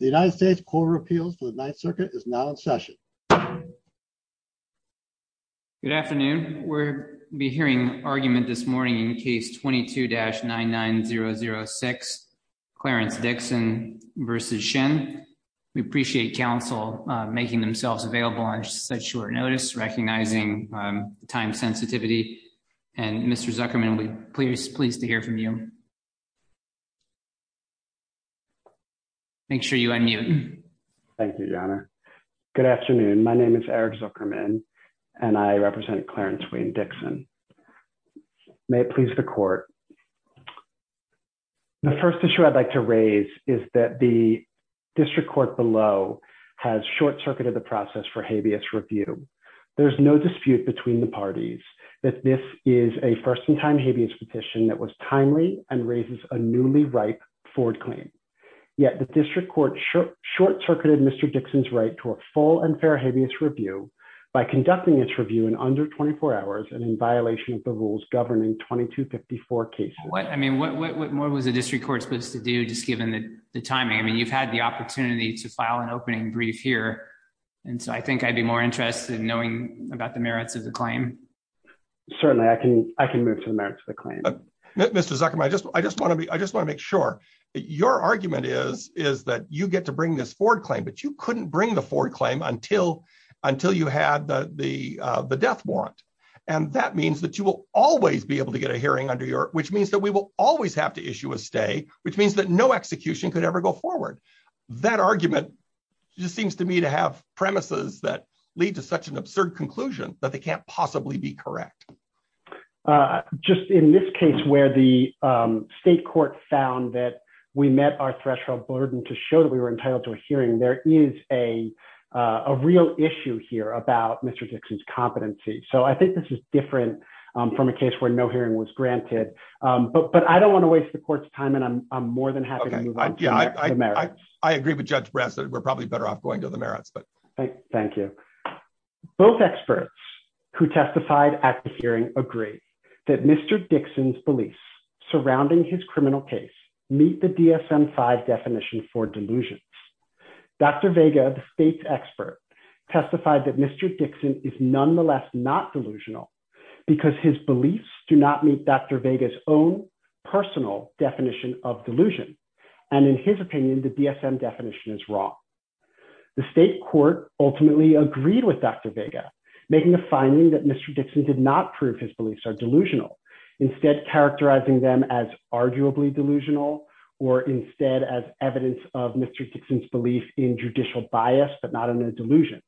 Good afternoon. We'll be hearing argument this morning in case 22-99006 Clarence Dixon v. Shinn. We appreciate counsel making themselves available on such short notice, recognizing time sensitivity. And Mr. Zuckerman, we're pleased to hear from you. Make sure you unmute. Eric Zuckerman Thank you, Your Honor. Good afternoon. My name is Eric Zuckerman and I represent Clarence Wayne Dixon. May it please the court. The first issue I'd like to raise is that the district court below has short-circuited the review. There's no dispute between the parties that this is a first-in-time habeas petition that was timely and raises a newly ripe Ford claim. Yet the district court short-circuited Mr. Dixon's right to a full and fair habeas review by conducting its review in under 24 hours and in violation of the rules governing 2254 cases. What more was the district court supposed to do, just given the timing? I mean, to file an opening brief here. And so I think I'd be more interested in knowing about the merits of the claim. Eric Zuckerman Certainly, I can move to the merits of the claim. Judge Goldberg Mr. Zuckerman, I just want to make sure. Your argument is that you get to bring this Ford claim, but you couldn't bring the Ford claim until you had the death warrant. And that means that you will always be able to get a hearing under your, which means that we will always have to issue a stay, which means that no execution could ever go forward. That argument just seems to me to have premises that lead to such an absurd conclusion that they can't possibly be correct. Eric Zuckerman Just in this case, where the state court found that we met our threshold burden to show that we were entitled to a hearing, there is a real issue here about Mr. Dixon's competency. So I think this is different from a case where no hearing was granted. But I don't want to waste the court's time, and I'm more than happy to move to the merits. Judge Goldberg I agree with Judge Brassett. We're probably better off going to the merits. Eric Zuckerman Thank you. Both experts who testified at the hearing agree that Mr. Dixon's beliefs surrounding his criminal case meet the DSM-5 definition for delusions. Dr. Vega, the state's expert, testified that Mr. Dixon is nonetheless not delusional because his beliefs do not meet Dr. Vega's own personal of delusion. And in his opinion, the DSM definition is wrong. The state court ultimately agreed with Dr. Vega, making the finding that Mr. Dixon did not prove his beliefs are delusional, instead characterizing them as arguably delusional, or instead as evidence of Mr. Dixon's belief in judicial bias, but not in a delusion.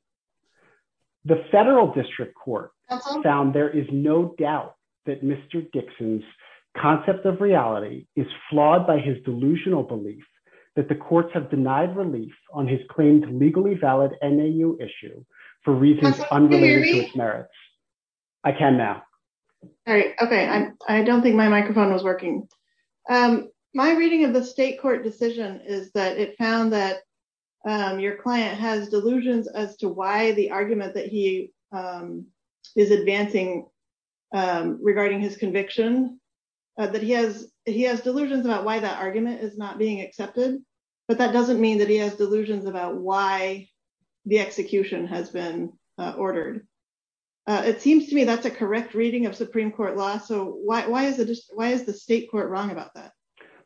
The federal district court found there is no doubt that Mr. Dixon's concept of reality is flawed by his delusional belief that the courts have denied relief on his claimed legally valid NAU issue for reasons unrelated to his merits. I can now. All right. Okay. I don't think my microphone was working. My reading of the state court decision is that it found that your client has delusions as to why the argument that he is advancing regarding his conviction, that he has delusions about why that argument is not being accepted. But that doesn't mean that he has delusions about why the execution has been ordered. It seems to me that's a correct reading of Supreme Court law. So why is the state court wrong about that?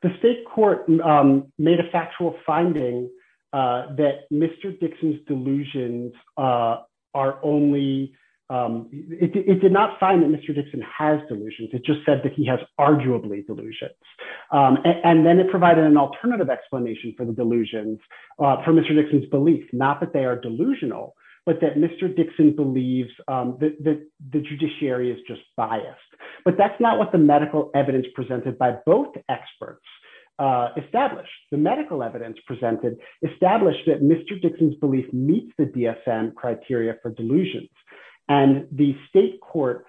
The state court made a factual finding that Mr. Dixon's delusions are only, it did not find that Mr. Dixon has delusions. It just said that he has arguably delusions. And then it provided an alternative explanation for the delusions for Mr. Dixon's belief, not that they are delusional, but that Mr. Dixon believes that the judiciary is just biased. But that's not what the medical evidence presented by both experts established. The medical evidence presented established that Mr. Dixon's belief meets the DSM criteria for delusions. And the state court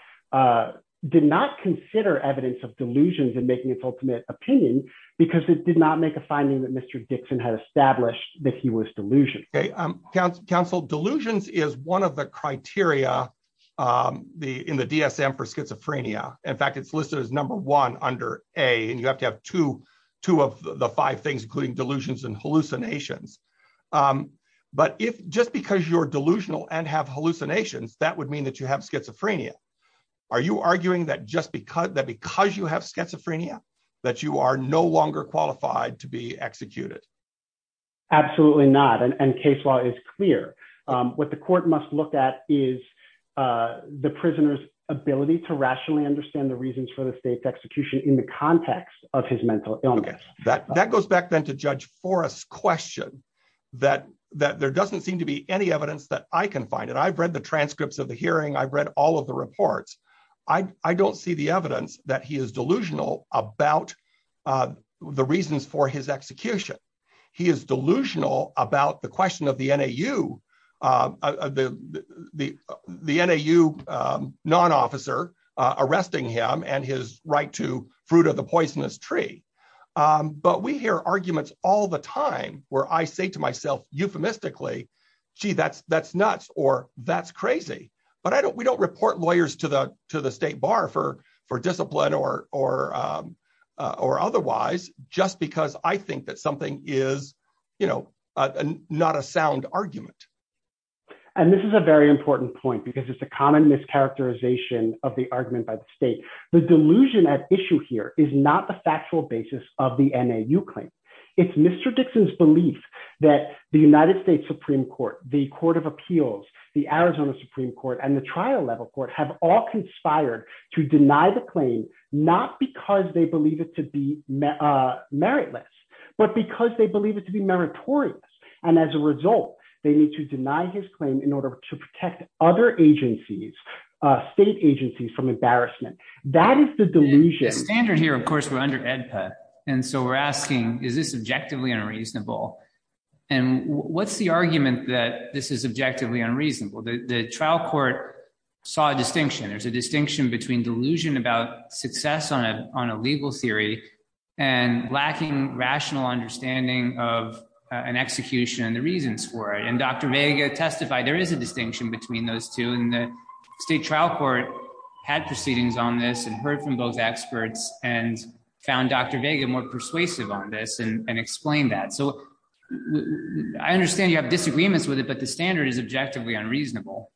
did not consider evidence of delusions in making its ultimate opinion because it did not make a finding that Mr. Dixon had established that he was delusional. Counsel, delusions is one of the criteria in the DSM for schizophrenia. In fact, it's listed as number one under A, and you have to have two of the five things, including delusions and hallucinations. But if just because you're delusional and have hallucinations, that would mean that you have schizophrenia. Are you arguing that just because you have schizophrenia, that you are no longer qualified to be executed? Absolutely not. And case law is clear. What the court must look at is the prisoner's ability to rationally understand the reasons for the state's execution in the context of his mental illness. That goes back then to Judge Forrest's question that there doesn't seem to be any evidence that I can find. And I've read the transcripts of the hearing. I've read all of the reports. I don't see the evidence that he is delusional about the reasons for his execution. He is delusional about the question of the NAU non-officer arresting him and his right to fruit of the poisonous tree. But we hear arguments all the time where I say to myself, euphemistically, gee, that's nuts or that's crazy. But we don't report lawyers to the state bar for you know, not a sound argument. And this is a very important point because it's a common mischaracterization of the argument by the state. The delusion at issue here is not the factual basis of the NAU claim. It's Mr. Dixon's belief that the United States Supreme Court, the Court of Appeals, the Arizona Supreme Court, and the trial level court have all conspired to deny the it to be meritorious. And as a result, they need to deny his claim in order to protect other agencies, state agencies from embarrassment. That is the delusion. The standard here, of course, we're under AEDPA. And so we're asking, is this objectively unreasonable? And what's the argument that this is objectively unreasonable? The trial court saw a distinction. There's a distinction between delusion about success on a legal theory and lacking rational understanding of an execution and the reasons for it. And Dr. Vega testified there is a distinction between those two. And the state trial court had proceedings on this and heard from those experts and found Dr. Vega more persuasive on this and explained that. So I understand you have disagreements with it, the standard is objectively unreasonable.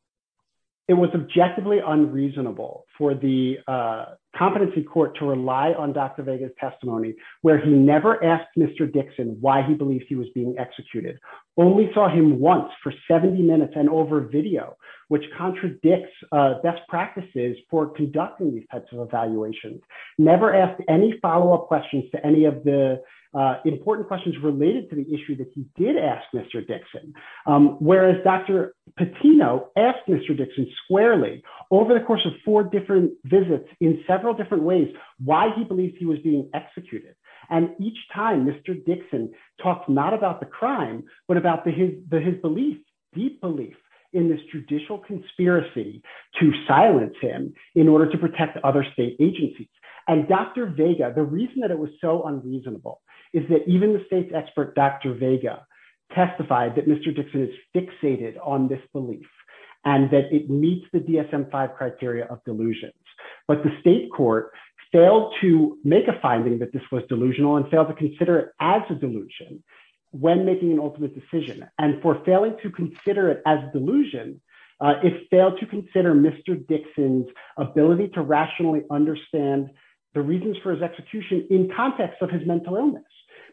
It was objectively unreasonable for the competency court to rely on Dr. Vega's testimony where he never asked Mr. Dixon why he believes he was being executed. Only saw him once for 70 minutes and over video, which contradicts best practices for conducting these types of evaluations. Never asked any follow up questions to any of the important questions related to the issue that he did ask Mr. Dixon. Whereas Dr. Patino asked Mr. Dixon squarely over the course of four different visits in several different ways, why he believes he was being executed. And each time Mr. Dixon talked not about the crime, but about his belief, deep belief in this judicial conspiracy to silence him in order to protect other state agencies. And Dr. Vega, the reason that it was so unreasonable is that even the state's expert Dr. Vega testified that Mr. Dixon is fixated on this belief and that it meets the DSM-5 criteria of delusions. But the state court failed to make a finding that this was delusional and failed to consider it as a delusion when making an ultimate decision. And for failing to consider it as the reasons for his execution in context of his mental illness,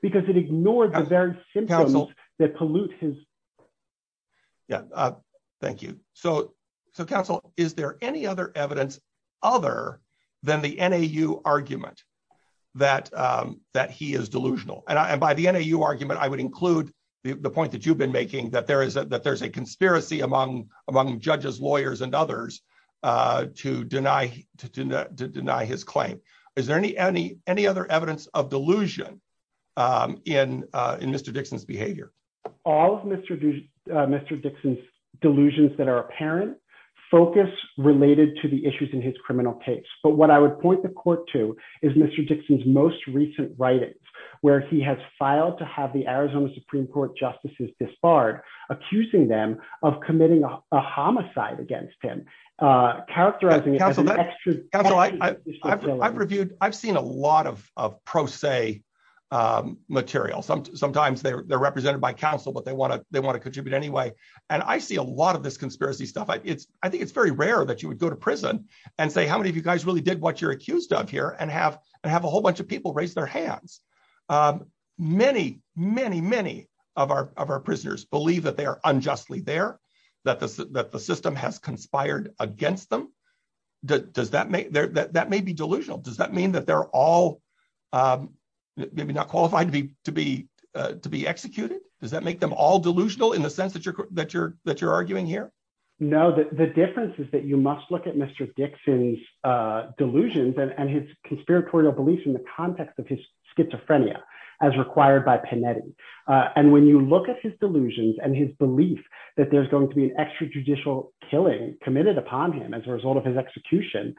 because it ignored the various symptoms that pollute his- Yeah. Thank you. So counsel, is there any other evidence other than the NAU argument that he is delusional? And by the NAU argument, I would include the point that you've been making that there's a conspiracy among judges, lawyers, and others to deny his claim. Is there any other evidence of delusion in Mr. Dixon's behavior? All of Mr. Dixon's delusions that are apparent focus related to the issues in his criminal case. But what I would point the court to is Mr. Dixon's most recent writings, where he has filed to have the Arizona Supreme Court justices disbarred, accusing them of committing a homicide against him, characterizing it as an extra- Counsel, I've reviewed, I've seen a lot of pro se material. Sometimes they're represented by counsel, but they want to contribute anyway. And I see a lot of this conspiracy stuff. I think it's very rare that you would go to prison and say, how many of you guys really did what you're accused of here? And have a whole bunch of people raise their hands. Many, many, many of our prisoners believe that they are unjustly there, that the system has conspired against them. That may be delusional. Does that mean that they're all maybe not qualified to be executed? Does that make them all delusional in the sense that you're arguing here? No, the difference is that you must look at Mr. Dixon's delusions and his conspiratorial beliefs in the context of his schizophrenia as required by Panetti. And when you look at his extrajudicial killing committed upon him as a result of his execution,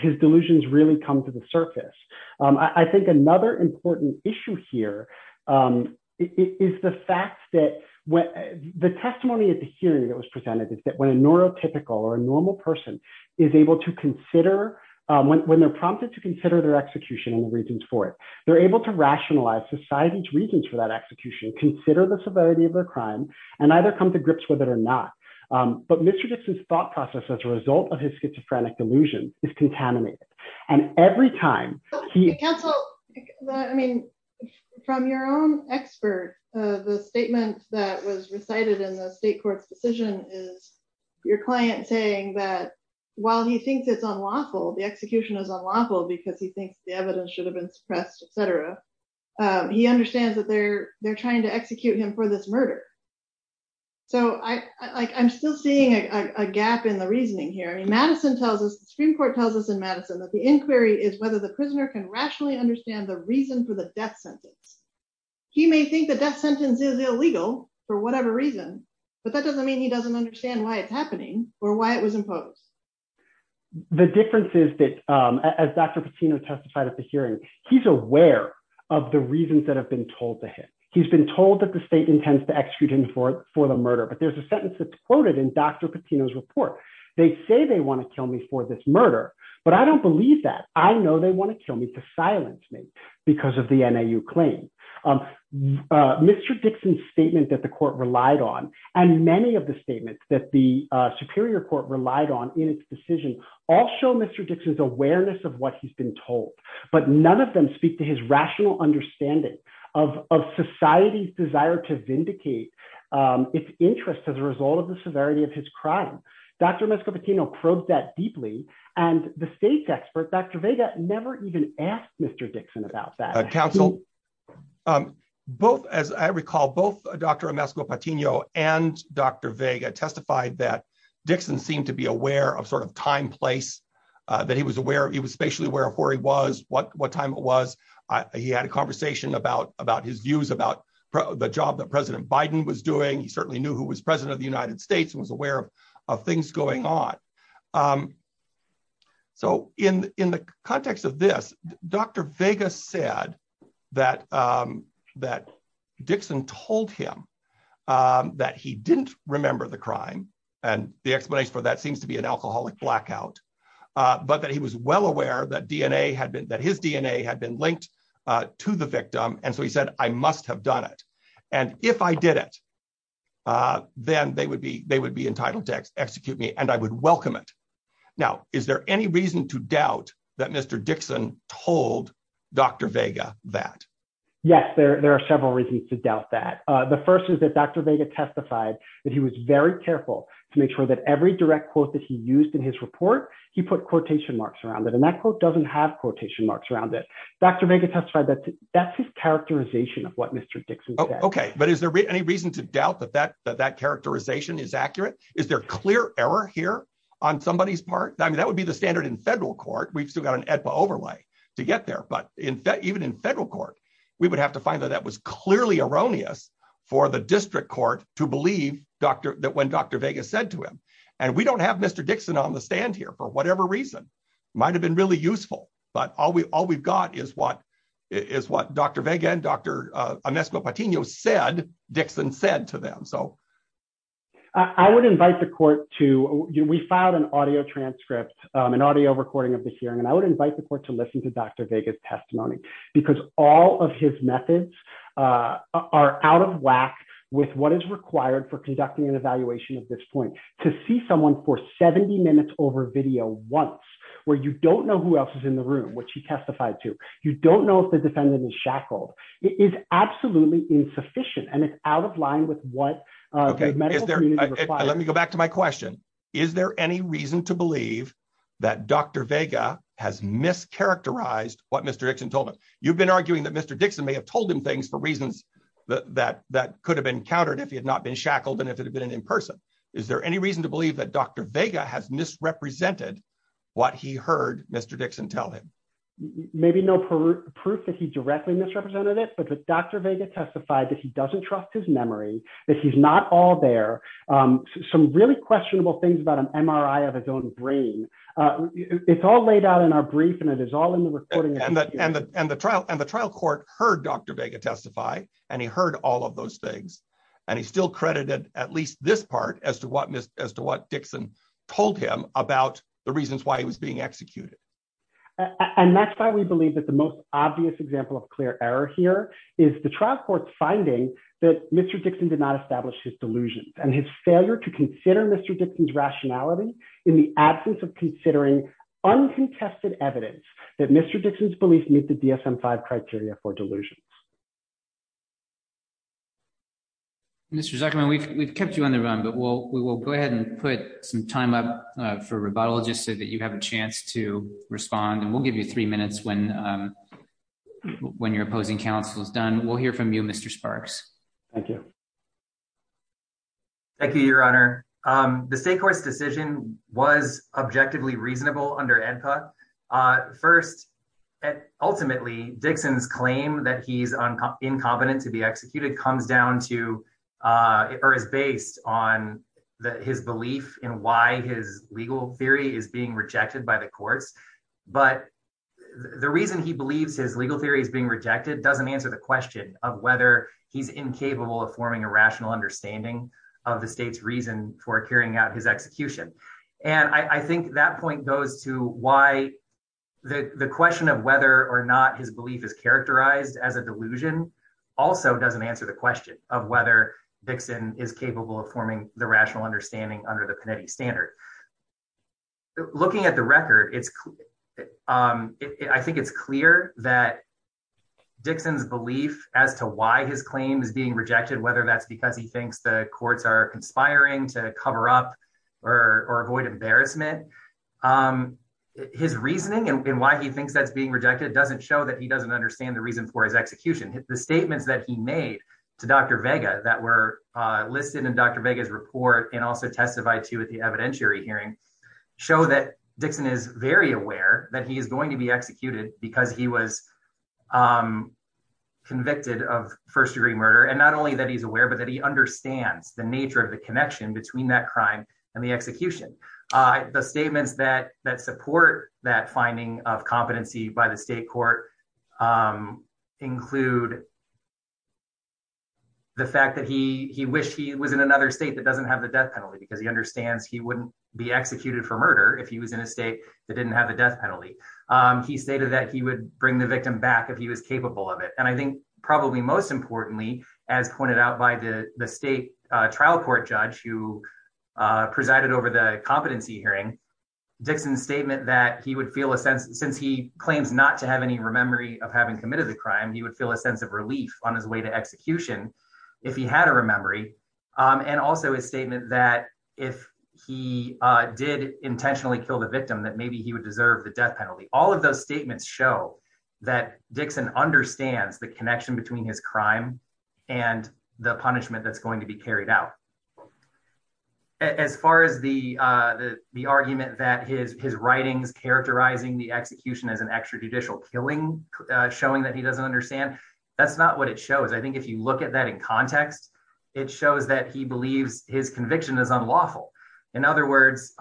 his delusions really come to the surface. I think another important issue here is the fact that the testimony at the hearing that was presented is that when a neurotypical or a normal person is able to consider, when they're prompted to consider their execution and the reasons for it, they're able to rationalize society's reasons for that execution, consider the severity of their not. But Mr. Dixon's thought process as a result of his schizophrenic delusion is contaminated. And every time he... Counsel, I mean, from your own expert, the statement that was recited in the state court's decision is your client saying that while he thinks it's unlawful, the execution is unlawful because he thinks the evidence should have been suppressed, etc. He understands that they're trying to execute him for this murder. So, I'm still seeing a gap in the reasoning here. I mean, Madison tells us, the Supreme Court tells us in Madison that the inquiry is whether the prisoner can rationally understand the reason for the death sentence. He may think the death sentence is illegal for whatever reason, but that doesn't mean he doesn't understand why it's happening or why it was imposed. The difference is that as Dr. Patino testified at the hearing, he's aware of the reasons that have been told to him. He's been told that the state intends to execute him for the murder, but there's a sentence that's quoted in Dr. Patino's report. They say they want to kill me for this murder, but I don't believe that. I know they want to kill me to silence me because of the NAU claim. Mr. Dixon's statement that the court relied on and many of the statements that the Superior Court relied on in its decision all show Mr. Dixon's awareness of what he's been told, but none of them speak to his rational understanding of society's desire to vindicate its interest as a result of the severity of his crime. Dr. Mesco Patino probed that deeply, and the state's expert, Dr. Vega, never even asked Mr. Dixon about that. Counsel, as I recall, both Dr. Mesco Patino and Dr. Vega testified that Dixon seemed to be aware of time, place, that he was spatially aware of where he was, what time it was. He had a conversation about his views about the job that President Biden was doing. He certainly knew who was President of the United States and was aware of things going on. In the context of this, Dr. Vega said that Dixon told him that he didn't remember the crime, and the explanation for that seems to be an alcoholic blackout, but that he was well aware that his DNA had been linked to the victim. He said, I must have done it. If I did it, then they would be entitled to Dr. Vega that. Yes, there are several reasons to doubt that. The first is that Dr. Vega testified that he was very careful to make sure that every direct quote that he used in his report, he put quotation marks around it, and that quote doesn't have quotation marks around it. Dr. Vega testified that that's his characterization of what Mr. Dixon said. Okay, but is there any reason to doubt that that characterization is accurate? Is there clear error here on somebody's part? I mean, that would be the standard in federal court. We've still got an EDPA overlay to get there, but even in federal court, we would have to find that that was clearly erroneous for the district court to believe when Dr. Vega said to him. We don't have Mr. Dixon on the stand here for whatever reason. It might have been really useful, but all we've got is what Dr. Vega and Dr. Amesco Patino said Dixon said to them. I would invite the court to, we filed an audio transcript, an audio recording of the hearing, and I would invite the court to listen to Dr. Vega's testimony because all of his methods are out of whack with what is required for conducting an evaluation at this point. To see someone for 70 minutes over video once, where you don't know who else is in the room, which he testified to, you don't know if the defendant is shackled, is absolutely insufficient and it's out of line with what the medical community requires. Let me go back to my question. Is there any reason to believe that Dr. Vega has mischaracterized what Mr. Dixon told him? You've been arguing that Mr. Dixon may have told him things for reasons that could have been countered if he had not been shackled and if it had been an in-person. Is there any reason to believe that Dr. Vega has misrepresented what he heard Mr. Dixon tell him? Maybe no proof that he directly misrepresented it, but that Dr. Vega testified that he doesn't trust his memory, that he's not all there, some really questionable things about an MRI of his own brain. It's all laid out in our brief and it is all in the recording. And the trial court heard Dr. Vega testify and he heard all of those things and he still credited at least this part as to what Dixon told him about the reasons why he was being executed. And that's why we believe that the most obvious example of clear error here is the trial court finding that Mr. Dixon did not establish his delusions and his failure to consider Mr. Dixon's rationality in the absence of considering uncontested evidence that Mr. Dixon's beliefs meet the DSM-5 criteria for delusions. Mr. Zuckerman, we've kept you on the run, but we will go ahead and put some time up for rebuttal just so that you have a chance to respond and we'll give you three minutes when when your opposing counsel is done. We'll hear from you, Mr. Sparks. Thank you. Thank you, your honor. The state court's decision was objectively reasonable under AEDPA. First, ultimately, Dixon's claim that he's incompetent to be executed comes down to or is based on his belief in why his legal theory is being rejected by the courts. But the reason he believes his legal theory is being rejected doesn't answer the question of whether he's incapable of forming a rational understanding of the state's reason for carrying out his execution. And I think that point goes to why the question of whether or not his belief is characterized as a delusion also doesn't answer the question of whether Dixon is capable of forming the rational understanding under the Panetti standard. Looking at the record, I think it's clear that Dixon's belief as to why his claim is being rejected, whether that's because he or avoid embarrassment, his reasoning and why he thinks that's being rejected doesn't show that he doesn't understand the reason for his execution. The statements that he made to Dr. Vega that were listed in Dr. Vega's report and also testified to at the evidentiary hearing show that Dixon is very aware that he is going to be executed because he was convicted of first degree murder. And not only that he's aware, but that he understands the nature of the connection between that crime and the execution. The statements that support that finding of competency by the state court include the fact that he wished he was in another state that doesn't have the death penalty because he understands he wouldn't be executed for murder if he was in a state that didn't have the death penalty. He stated that he would bring the victim back if he was capable of it. And I think probably most importantly, as pointed out by the state trial court judge who presided over the competency hearing, Dixon's statement that he would feel a sense since he claims not to have any memory of having committed the crime, he would feel a sense of relief on his way to execution if he had a memory. And also his statement that if he did intentionally kill the victim, that maybe he would deserve the death penalty. All of those statements show that Dixon understands the connection between his crime and the punishment that's going to be carried out. As far as the argument that his writings characterizing the execution as an extrajudicial killing, showing that he doesn't understand, that's not what it shows. I think if you look at that in context, it shows that he believes his conviction is unlawful. In other words,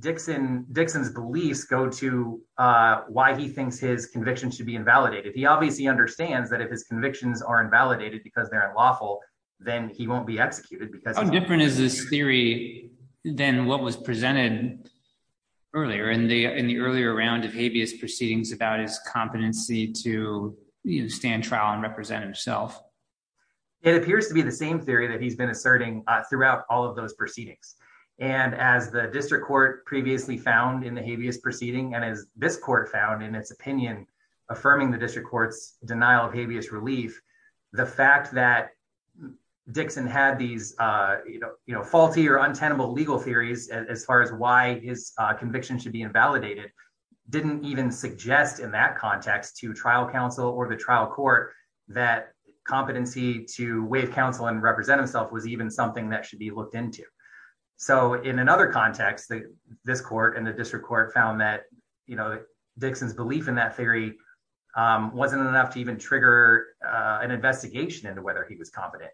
Dixon's beliefs go to why he thinks his conviction should be invalidated. He obviously understands that if his convictions are invalidated because they're unlawful, then he won't be executed. How different is this theory than what was presented earlier in the earlier round of habeas proceedings about his competency to stand trial and represent himself? It appears to be the same theory that he's been asserting throughout all of those proceedings. As the district court previously found in the habeas proceeding, and as this court found in its opinion affirming the district court's denial of habeas relief, the fact that Dixon had these faulty or untenable legal theories as far as why his conviction should be invalidated didn't even suggest in that context to trial counsel or the should be looked into. In another context, this court and the district court found that Dixon's belief in that theory wasn't enough to even trigger an investigation into whether he was competent.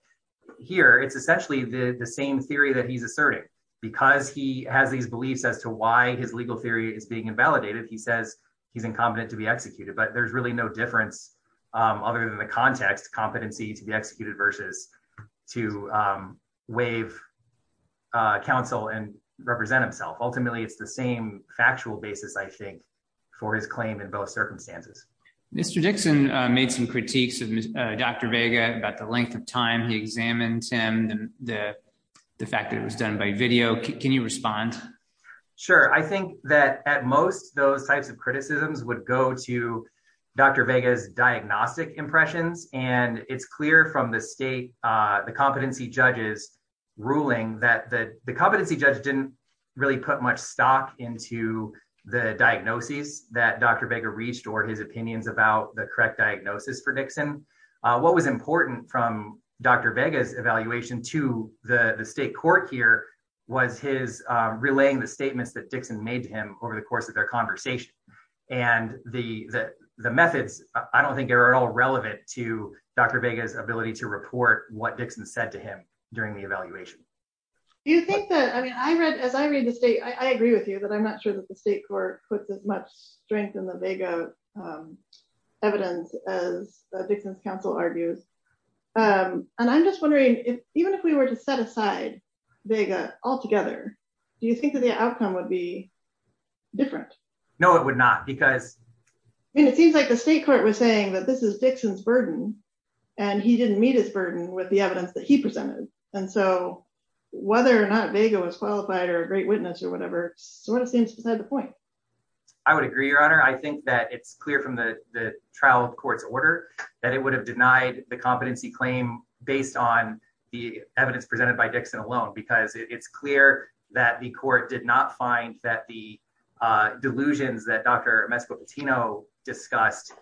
Here, it's essentially the same theory that he's asserting. Because he has these beliefs as to why his legal theory is being invalidated, he says he's incompetent to be executed, but there's really no difference other than the context competency to be executed versus to waive counsel and represent himself. Ultimately, it's the same factual basis, I think, for his claim in both circumstances. Mr. Dixon made some critiques of Dr. Vega about the length of time he examined him, the fact that it was done by video. Can you respond? Sure. I think that at most, those types of criticisms would go to Dr. Vega's diagnostic impressions. It's clear from the competency judge's ruling that the competency judge didn't really put much stock into the diagnoses that Dr. Vega reached or his opinions about the correct diagnosis for Dixon. What was important from Dr. Vega's evaluation to the state court here was his relaying the statements that Dixon made to him over the course of their conversation. And the methods, I don't think, are at all relevant to Dr. Vega's ability to report what Dixon said to him during the evaluation. I agree with you that I'm not sure that the state court puts as much strength in the Vega evidence as Dixon's counsel argues. And I'm just wondering, even if we were to set aside Vega altogether, do you think that the outcome would be different? No, it would not. I mean, it seems like the state court was saying that this is Dixon's burden, and he didn't meet his burden with the evidence that he presented. And so, whether or not Vega was qualified or a great witness or whatever, sort of seems beside the point. I would agree, Your Honor. I think that it's clear from the trial court's order that it would have denied the competency claim based on the evidence presented by Dixon alone, because it's clear that the court did not find that the delusions that Dr. Mescopatino discussed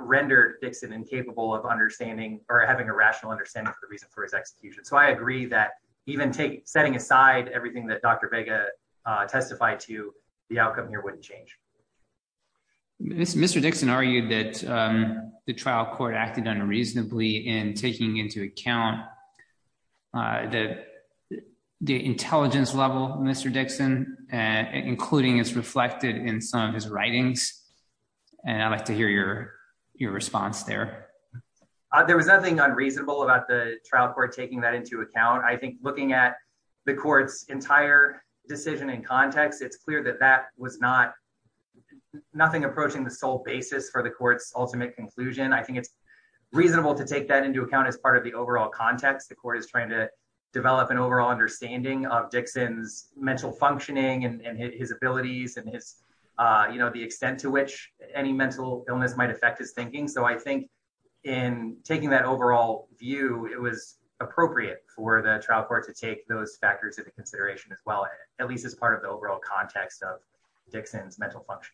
rendered Dixon incapable of understanding or having a rational understanding of the reason for his execution. So, I agree that even setting aside everything that Dr. Vega testified to, the outcome here wouldn't change. Mr. Dixon argued that the trial court acted unreasonably in taking into account the intelligence level of Mr. Dixon, including as reflected in some of his writings. And I'd like to hear your response there. There was nothing unreasonable about the trial court taking that into account. I think looking at the court's entire decision in context, it's clear that that was nothing approaching the sole basis for the court's ultimate conclusion. I think it's reasonable to take that into account as part of the overall context. The court is trying to develop an overall understanding of Dixon's mental functioning and his abilities and the extent to which any mental illness might affect his thinking. So, I think in taking that overall view, it was appropriate for the trial court to take those factors into consideration as well, at least as part of the overall context of Dixon's mental health.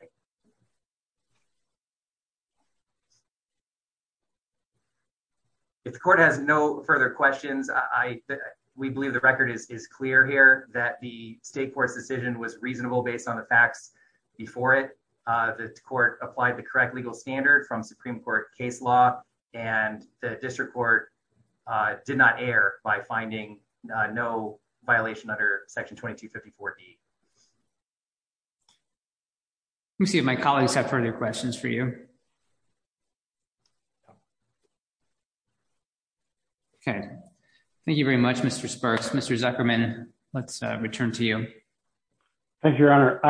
If the court has no further questions, we believe the record is clear here that the state court's decision was reasonable based on the facts before it. The court applied the correct legal standard from Supreme Court case law and the district court did not err by finding no violation under Section 2254D. Let me see if my colleagues have further questions. Thank you very much, Mr. Sparks. Mr. Zuckerman, let's return to you. Thank you, Your Honor.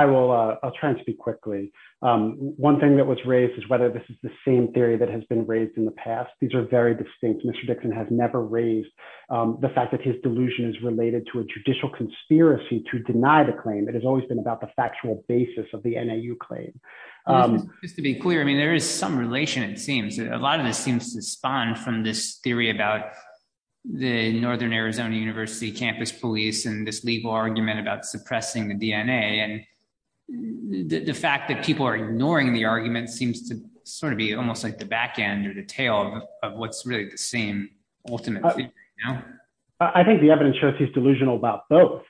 I'll try and speak quickly. One thing that was raised is whether this is the same theory that has been raised in the past. These are very distinct. Mr. Dixon has never raised the fact that his delusion is related to a judicial conspiracy to deny the claim. It has been about the factual basis of the NAU claim. Just to be clear, I mean, there is some relation, it seems. A lot of this seems to spawn from this theory about the Northern Arizona University campus police and this legal argument about suppressing the DNA. And the fact that people are ignoring the argument seems to sort of be almost like the back end or the tail of what's really the same ultimate thing. I think the evidence shows he's delusional about both.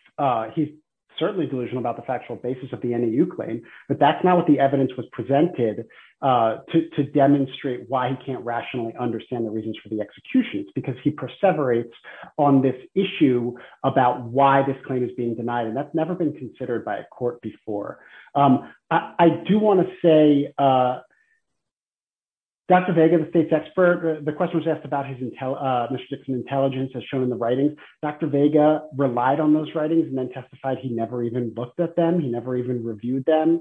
He's certainly delusional about the factual basis of the NAU claim, but that's not what the evidence was presented to demonstrate why he can't rationally understand the reasons for the executions, because he perseverates on this issue about why this claim is being denied. And that's never been considered by a court before. I do want to say, Dr. Vega, the state's expert, the question was asked about Mr. Dixon's intelligence as shown in the writings. Dr. Vega relied on those writings and then testified he never even looked at them. He never even reviewed them.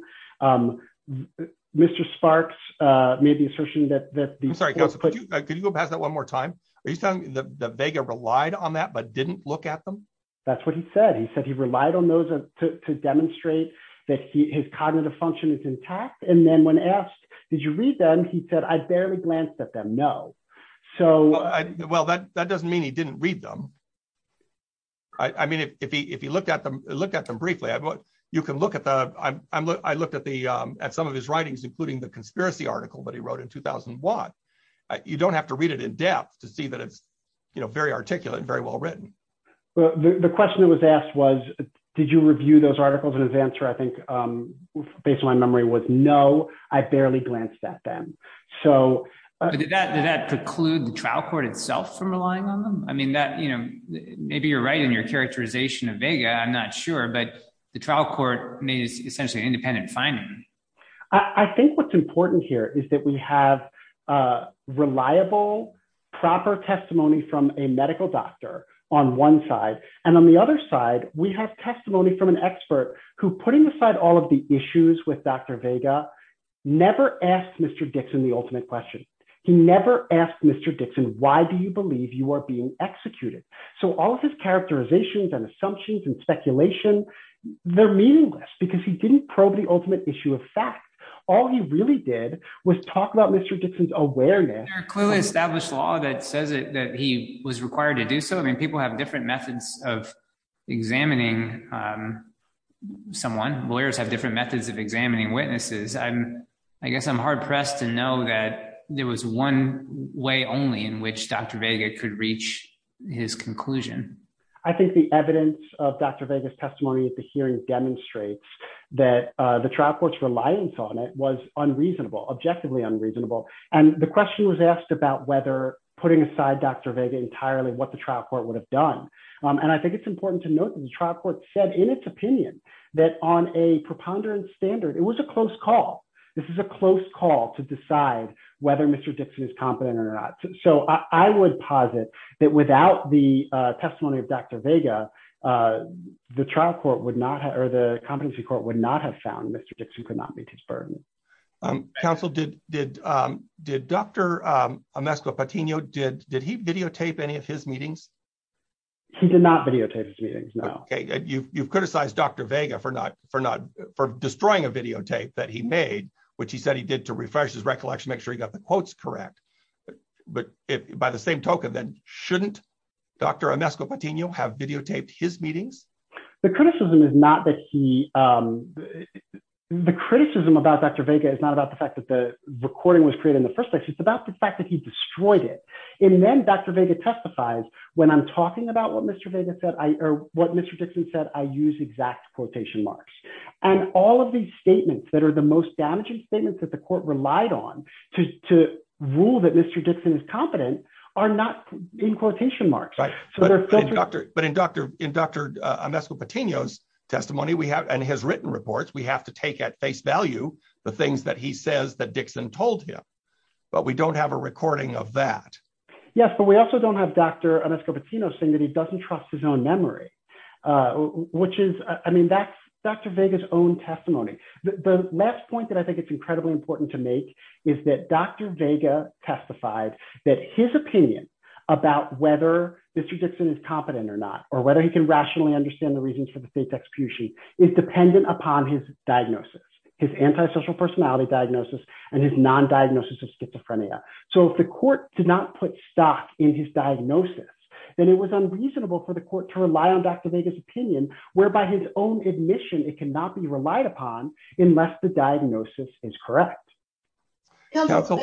Mr. Sparks made the assertion that- I'm sorry, could you go past that one more time? Are you saying that Vega relied on that but didn't look at them? That's what he said. He said he relied on those to demonstrate that his cognitive function is intact. And then when asked, did you read them? He said, I barely glanced at them. No. So- Well, that doesn't mean he didn't read them. I mean, if he looked at them briefly, you can look at the- I looked at some of his writings, including the conspiracy article that he wrote in 2001. You don't have to read it in depth to see that it's very articulate and very well written. The question that was asked was, did you review those articles? And his answer, I think, based on my memory was, no, I barely glanced at them. So- But did that preclude the trial court itself from relying on them? I mean, maybe you're right in your characterization of Vega, I'm not sure, but the trial court made essentially an independent finding. I think what's important here is that we have reliable, proper testimony from a medical doctor on one side. And on the other side, we have testimony from an expert who, putting aside all of the issues with Dr. Vega, never asked Mr. Dixon the ultimate question. He never asked Mr. Dixon, why do you believe you are being executed? So all of his characterizations and assumptions and speculation, they're meaningless because he didn't probe the ultimate issue of fact. All he really did was talk about Mr. Dixon's awareness- There are clearly established law that says that he was required to do so. I mean, people have different methods of examining someone. Lawyers have different methods of examining witnesses. I guess I'm hard-pressed to know that there was one way only in which Dr. Vega could reach his conclusion. I think the evidence of Dr. Vega's testimony at the hearing demonstrates that the trial court's reliance on it was unreasonable, objectively unreasonable. And the question was asked about whether putting aside Dr. Vega entirely, what the trial court would have done. And I think it's said in its opinion that on a preponderance standard, it was a close call. This is a close call to decide whether Mr. Dixon is competent or not. So I would posit that without the testimony of Dr. Vega, the trial court would not have- or the competency court would not have found Mr. Dixon could not meet his burden. Counsel, did Dr. Amesco Patino, did he videotape any of his meetings? He did not videotape his meetings, no. Okay. You've criticized Dr. Vega for destroying a videotape that he made, which he said he did to refresh his recollection, make sure he got the quotes correct. But by the same token, then shouldn't Dr. Amesco Patino have videotaped his meetings? The criticism is not that he- the criticism about Dr. Vega is not about the fact that the recording was created in the first place. It's about the fact that he destroyed it. And then Dr. Vega testifies when I'm talking about what Mr. Vega said, or what Mr. Dixon said, I use exact quotation marks. And all of these statements that are the most damaging statements that the court relied on to rule that Mr. Dixon is competent are not in quotation marks. But in Dr. Amesco Patino's testimony, and his written reports, we have to take at face value the things that he says that Dixon told him, but we don't have a recording of that. Yes, but we also don't have Dr. Amesco Patino saying that he doesn't trust his own memory, which is, I mean, that's Dr. Vega's own testimony. The last point that I think it's incredibly important to make is that Dr. Vega testified that his opinion about whether Mr. Dixon is competent or not, or whether he can rationally understand the reasons for the fate execution is dependent upon his diagnosis, his antisocial personality diagnosis, and his non-diagnosis of schizophrenia. So if the court did not put stock in his diagnosis, then it was unreasonable for the court to rely on Dr. Vega's opinion, whereby his own admission, it cannot be relied upon unless the diagnosis is correct. Counsel?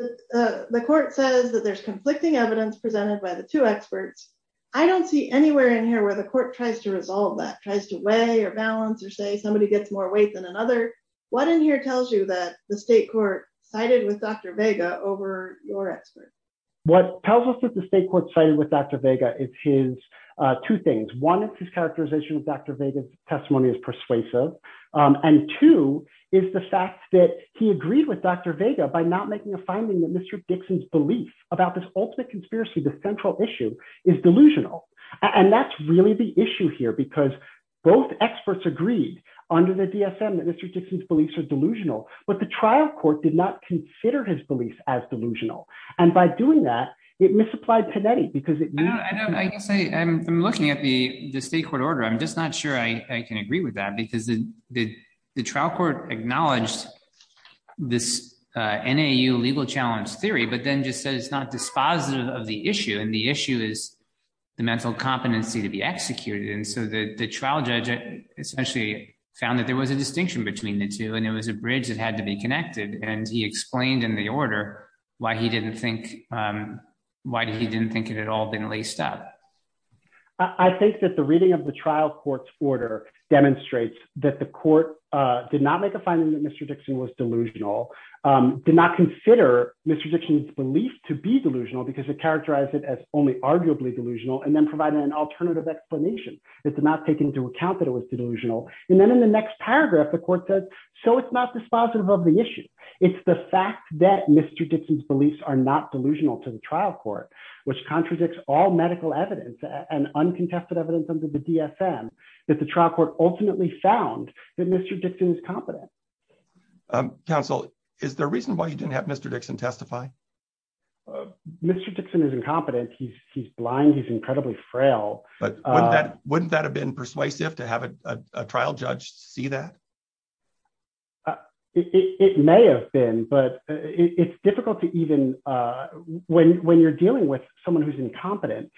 The court says that there's conflicting evidence presented by the two experts. I don't see anywhere in here where the court tries to resolve that, tries to weigh, or balance, or say somebody gets more weight than another. What in here tells you that the state court sided with Dr. Vega over your expert? What tells us that the state court sided with Dr. Vega is two things. One, it's his characterization of Dr. Vega's persuasive. And two, is the fact that he agreed with Dr. Vega by not making a finding that Mr. Dixon's belief about this ultimate conspiracy, the central issue, is delusional. And that's really the issue here, because both experts agreed under the DSM that Mr. Dixon's beliefs are delusional. But the trial court did not consider his beliefs as delusional. And by doing that, it misapplied Panetti, because it used- I guess I'm looking at the state court order. I'm just not sure I can agree with that, because the trial court acknowledged this NAU legal challenge theory, but then just said it's not dispositive of the issue. And the issue is the mental competency to be executed. And so the trial judge essentially found that there was a distinction between the two, and it was a bridge that had to be connected. And he explained in the order why he didn't think it had all been laced up. I think that the reading of the trial court's order demonstrates that the court did not make a finding that Mr. Dixon was delusional, did not consider Mr. Dixon's belief to be delusional, because it characterized it as only arguably delusional, and then provided an alternative explanation. It did not take into account that it was delusional. And then in the next paragraph, the court said, so it's not dispositive of the issue. It's the fact that Mr. Dixon's beliefs are not delusional to the trial court, which contradicts all medical evidence and uncontested evidence under the DSM that the trial court ultimately found that Mr. Dixon is competent. Counsel, is there a reason why you didn't have Mr. Dixon testify? Mr. Dixon is incompetent. He's blind. He's incredibly frail. But wouldn't that have been persuasive to have a trial judge see that? It may have been, but it's difficult to even, when you're dealing with someone who's incompetent,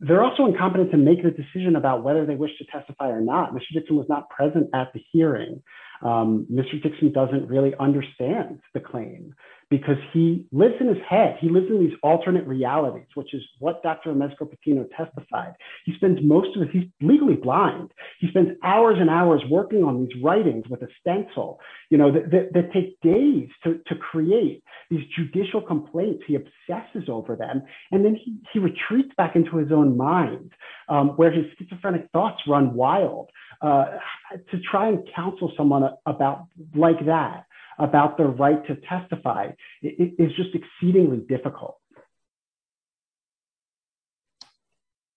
they're also incompetent to make a decision about whether they wish to testify or not. Mr. Dixon was not present at the hearing. Mr. Dixon doesn't really understand the claim, because he lives in his head. He lives in these alternate realities, which is what Dr. Mezqu-Petino testified. He spends most of his, he's legally blind. He spends hours and hours working on these writings, with a stencil, that take days to create. These judicial complaints, he obsesses over them. And then he retreats back into his own mind, where his schizophrenic thoughts run wild. To try and counsel someone like that, about their right to testify, is just exceedingly difficult.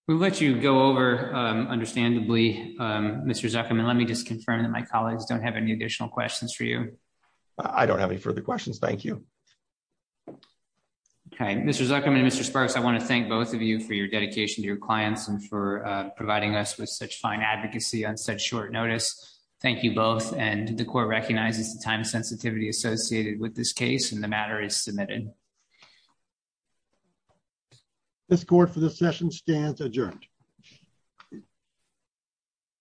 We'll let you go over, understandably, Mr. Zuckerman. Let me just confirm that my colleagues don't have any additional questions for you. I don't have any further questions, thank you. Okay, Mr. Zuckerman and Mr. Sparks, I want to thank both of you for your dedication to your clients, and for providing us with such fine advocacy on such short notice. Thank you both, and the court recognizes the time sensitivity associated with this case, and the matter is submitted. This court, for this session, stands adjourned.